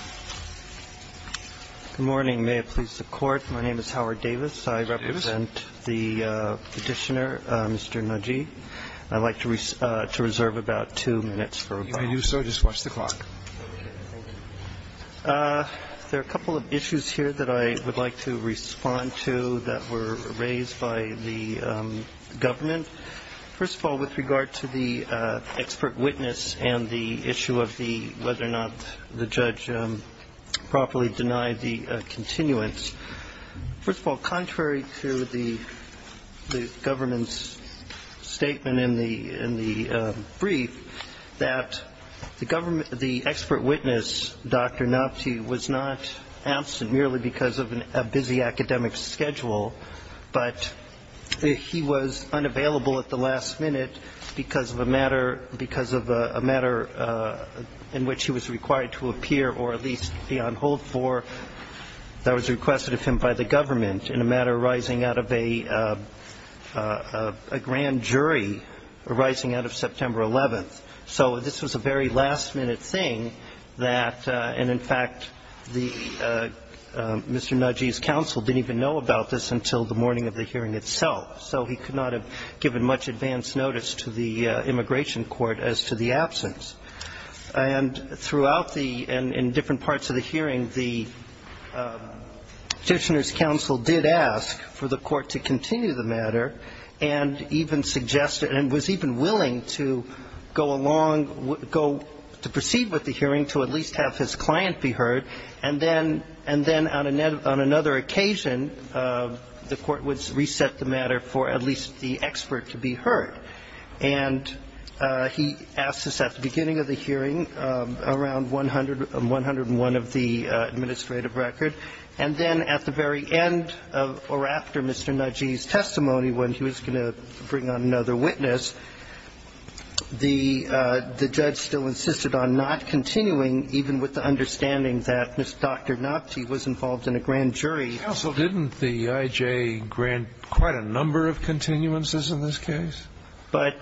Good morning. May it please the Court. My name is Howard Davis. I represent the Petitioner, Mr. Nagi. I'd like to reserve about two minutes for rebuttal. If you want to do so, just watch the clock. Thank you. There are a couple of issues here that I would like to respond to that were raised by the judge properly denied the continuance. First of all, contrary to the government's statement in the brief, that the expert witness, Dr. Napti, was not absent merely because of a busy academic schedule, but he was unavailable at the last minute because of a matter in which he was required to appear or at least be on hold for that was requested of him by the government in a matter arising out of a grand jury arising out of September 11th. So this was a very last-minute thing that, and in fact, Mr. Nagi's counsel didn't even know about this until the morning of the hearing itself, so he could not have given much advance notice to the immigration court as to the absence. And throughout the, and in different parts of the hearing, the Petitioner's counsel did ask for the court to continue the matter and even suggested, and was even willing to go along, to proceed with the hearing to at least have his client be heard, and then on another occasion, the court would reset the matter for at least the expert to be heard. And he asked this at the beginning of the hearing, around 101 of the administrative record, and then at the very end or after Mr. Nagi's testimony, when he was going to bring on another witness, the judge still insisted on not continuing, even with the understanding that Dr. Napti was involved in a grand jury. Scalia. Counsel, didn't the IJ grant quite a number of continuances in this case? But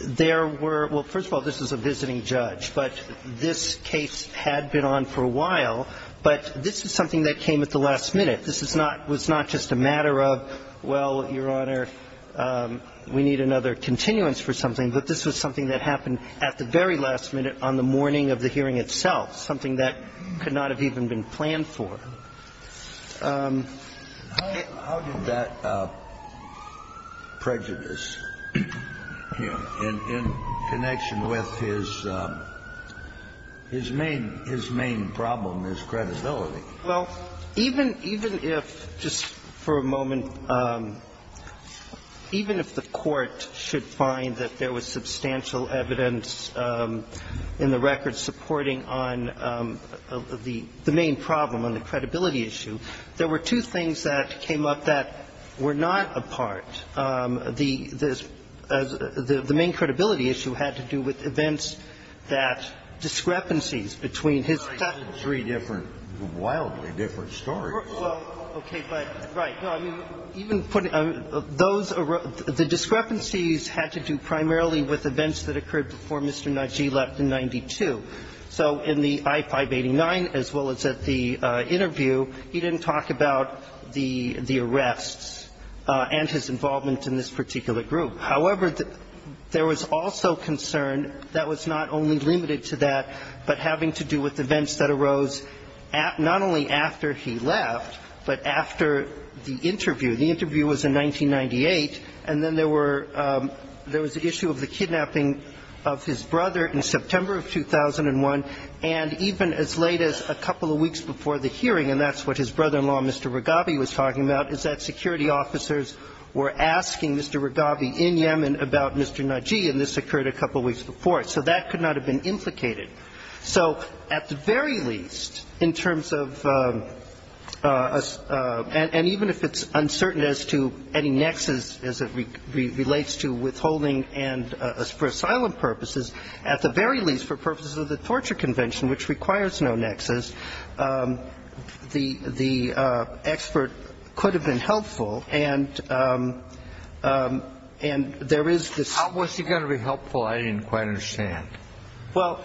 there were, well, first of all, this was a visiting judge, but this case had been on for a while, but this was something that came at the last minute. This is not, was not just a matter of, well, Your Honor, we need another continuance for something, but this was something that happened at the very last minute on the morning of the hearing itself, something that could not have even been planned for. How did that prejudice, in connection with his main problem, his credibility? Well, even if, just for a moment, even if the Court should find that there was substantial evidence in the record supporting on the main problem, on the credibility issue, there were two things that came up that were not a part. The main credibility issue had to do with events that, discrepancies between his. That's three different, wildly different stories. Well, okay, but, right. Even putting, those, the discrepancies had to do primarily with events that occurred before Mr. Najee left in 92. So in the I-589, as well as at the interview, he didn't talk about the arrests and his involvement in this particular group. However, there was also concern that was not only limited to that, but having to do with events that arose not only after he left, but after the interview. The interview was in 1998. And then there were, there was the issue of the kidnapping of his brother in September of 2001. And even as late as a couple of weeks before the hearing, and that's what his brother-in-law, Mr. Rigabi, was talking about, is that security officers were asking Mr. Rigabi in Yemen about Mr. Najee, and this occurred a couple of weeks before. So that could not have been implicated. So at the very least, in terms of, and even if it's uncertain as to any nexus as it relates to withholding and for asylum purposes, at the very least, for purposes of the torture convention, which requires no nexus, the expert could have been helpful. And there is this. How was he going to be helpful? I didn't quite understand. Well,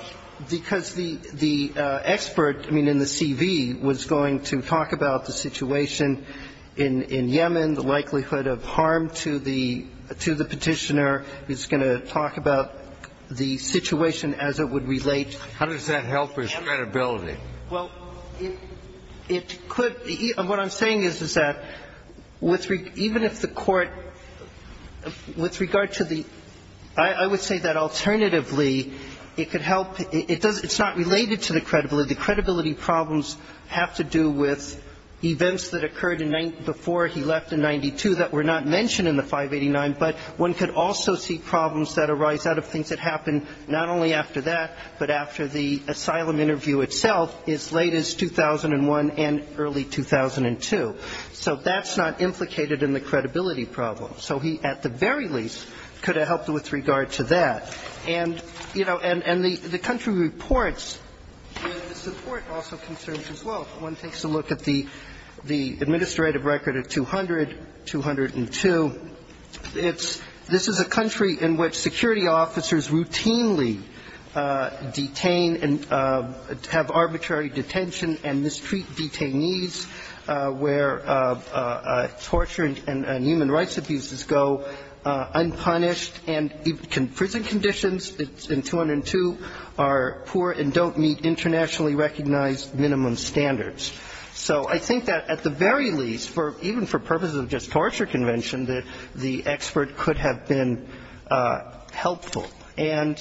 because the expert, I mean, in the CV, was going to talk about the situation in Yemen, the likelihood of harm to the Petitioner. He was going to talk about the situation as it would relate. How does that help his credibility? Well, it could. What I'm saying is, is that even if the Court, with regard to the – I would say that alternatively, it could help – it's not related to the credibility. The credibility problems have to do with events that occurred before he left in 92 that were not mentioned in the 589, but one could also see problems that arise out of things that happened not only after that, but after the asylum interview itself as late as 2001 and early 2002. So that's not implicated in the credibility problem. So he, at the very least, could have helped with regard to that. And, you know, and the country reports, the support also concerns as well. If one takes a look at the administrative record of 200, 202, it's – this is a country in which security officers routinely detain and have arbitrary detention and mistreat detainees, where torture and human rights abuses go unpunished. And even prison conditions in 202 are poor and don't meet internationally recognized minimum standards. So I think that at the very least, even for purposes of just torture convention, that the expert could have been helpful. And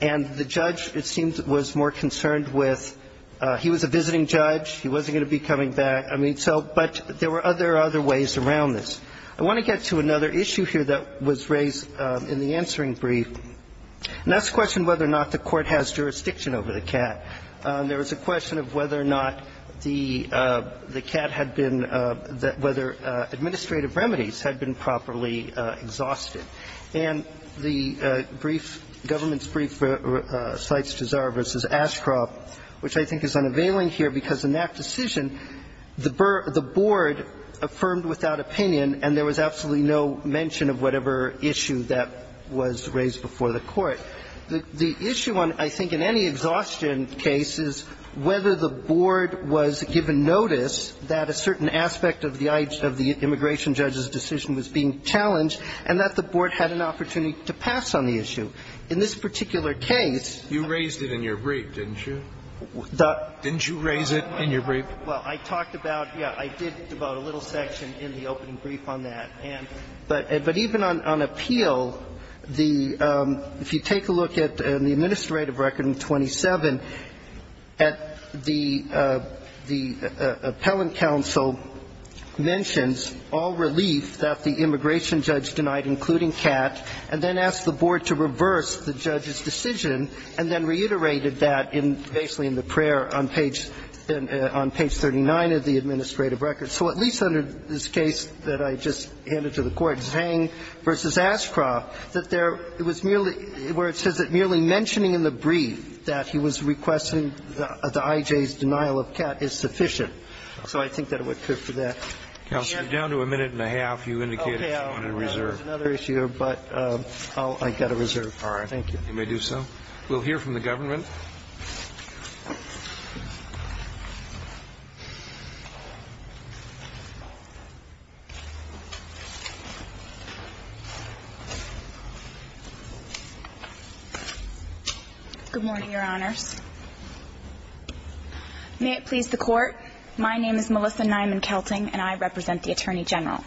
the judge, it seems, was more concerned with – he was a visiting judge. He wasn't going to be coming back. I mean, so – but there were other ways around this. I want to get to another issue here that was raised in the answering brief, and that's a question whether or not the Court has jurisdiction over the CAT. There was a question of whether or not the CAT had been – whether administrative remedies had been properly exhausted. And the brief, government's brief, cites Gisard v. Ashcroft, which I think is unavailing here because in that decision, the board affirmed without opinion and there was absolutely no mention of whatever issue that was raised before the Court. The issue on – I think in any exhaustion case is whether the board was given notice that a certain aspect of the immigration judge's decision was being challenged and that the board had an opportunity to pass on the issue. In this particular case – You raised it in your brief, didn't you? Didn't you raise it in your brief? Well, I talked about – yeah, I did devote a little section in the opening brief on that. But even on appeal, the – if you take a look at the administrative record in 27, the appellant counsel mentions all relief that the immigration judge denied, including CAT, and then asked the board to reverse the judge's decision and then reiterated that in – basically in the prayer on page – on page 39 of the administrative record. So at least under this case that I just handed to the Court, Zhang v. Ashcroft, that there – it was merely – where it says that merely mentioning in the brief that he was requesting the IJ's denial of CAT is sufficient. So I think that it would appear for that. Counsel, you're down to a minute and a half. You indicated you wanted to reserve. Okay. I'll reserve another issue, but I'll – I've got to reserve. Thank you. You may do so. We'll hear from the government. Good morning, Your Honors. May it please the Court. My name is Melissa Nyman-Kelting, and I represent the Attorney General.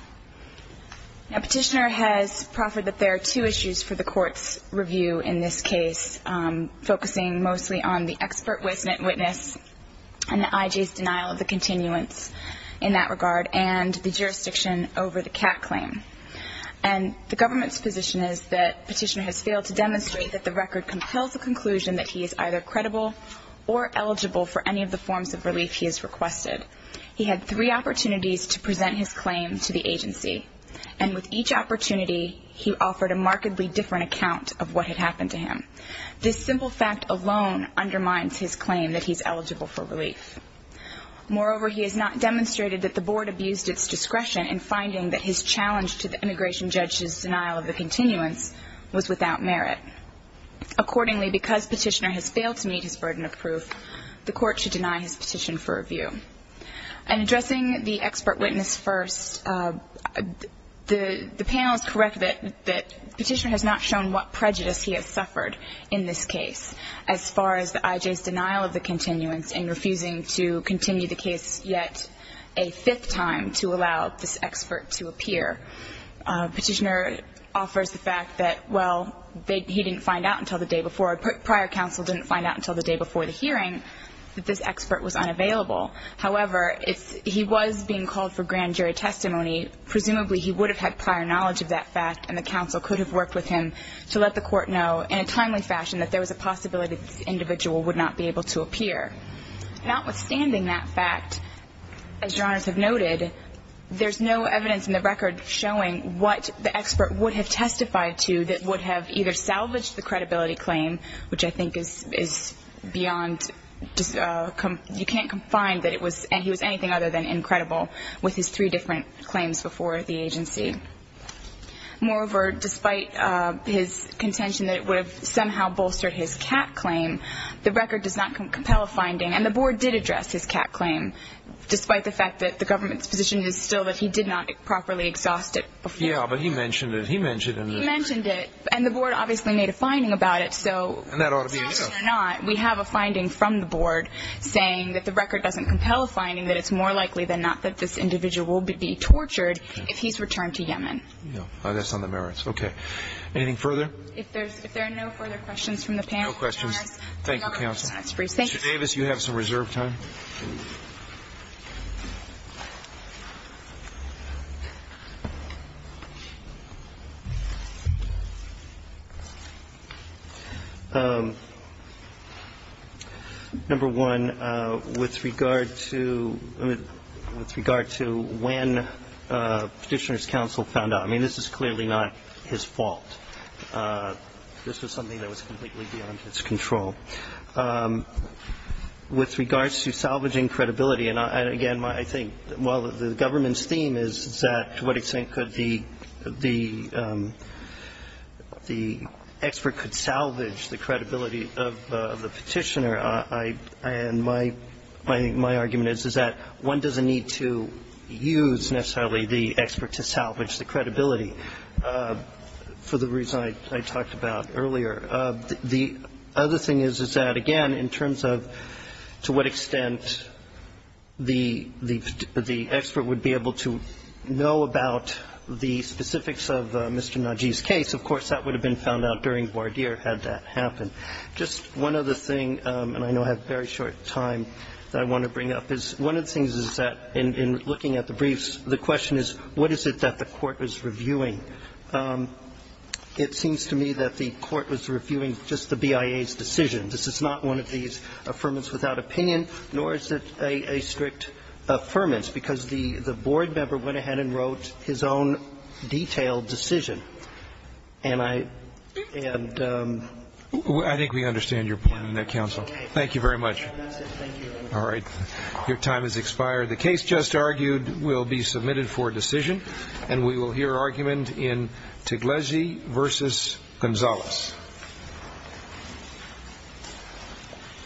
Now, Petitioner has proffered that there are two issues for the Court's review in this case, focusing mostly on the expert witness and the IJ's denial of the continuance in that regard and the jurisdiction over the CAT claim. And the government's position is that Petitioner has failed to demonstrate that the record compels the conclusion that he is either credible or eligible for any of the forms of relief he has requested. He had three opportunities to present his claim to the agency, and with each opportunity he offered a markedly different account of what had happened to him. This simple fact alone undermines his claim that he's eligible for relief. Moreover, he has not demonstrated that the Board abused its discretion in finding that his challenge to the immigration judge's denial of the continuance was without merit. Accordingly, because Petitioner has failed to meet his burden of proof, the Court should deny his petition for review. In addressing the expert witness first, the panel is correct that Petitioner has not shown what prejudice he has suffered in this case as far as the IJ's denial of the continuance in refusing to continue the case yet a fifth time to allow this expert to appear. Petitioner offers the fact that, well, he didn't find out until the day before or prior counsel didn't find out until the day before the hearing that this expert was unavailable. However, if he was being called for grand jury testimony, presumably he would have had prior knowledge of that fact and the counsel could have worked with him to let the Court know in a timely fashion that there was a possibility that this individual would not be able to appear. Notwithstanding that fact, as Your Honors have noted, there's no evidence in the record showing what the expert would have testified to that would have either established the credibility claim, which I think is beyond, you can't confine that he was anything other than incredible with his three different claims before the agency. Moreover, despite his contention that it would have somehow bolstered his cat claim, the record does not compel a finding, and the Board did address his cat claim, despite the fact that the government's position is still that he did not properly exhaust it before. Yeah, but he mentioned it. He mentioned it. He mentioned it. And the Board obviously made a finding about it, so whether or not we have a finding from the Board saying that the record doesn't compel a finding, that it's more likely than not that this individual would be tortured if he's returned to Yemen. No. That's on the merits. Okay. Anything further? If there are no further questions from the panel. No questions. Thank you, counsel. Mr. Davis, you have some reserve time. Number one, with regard to when Petitioner's counsel found out, I mean, this is clearly not his fault. This was something that was completely beyond his control. With regards to salvaging credibility, and, again, I think while the government's theme is that to what extent could the, the, you know, the government's the expert could salvage the credibility of the Petitioner, I, and my, my argument is, is that one doesn't need to use necessarily the expert to salvage the credibility for the reason I talked about earlier. The other thing is, is that, again, in terms of to what extent the, the expert would be able to know about the specifics of Mr. Najeeb's case, of course, that would have been found out during voir dire had that happened. Just one other thing, and I know I have very short time that I want to bring up, is one of the things is that in, in looking at the briefs, the question is, what is it that the Court was reviewing? It seems to me that the Court was reviewing just the BIA's decision. This is not one of these affirmants without opinion, nor is it a, a strict affirmance, because the, the board member went ahead and wrote his own detailed decision. And I, and. I think we understand your point on that, counsel. Thank you very much. Thank you. All right. Your time has expired. The case just argued will be submitted for decision, and we will hear argument in Tiglesi versus Gonzalez.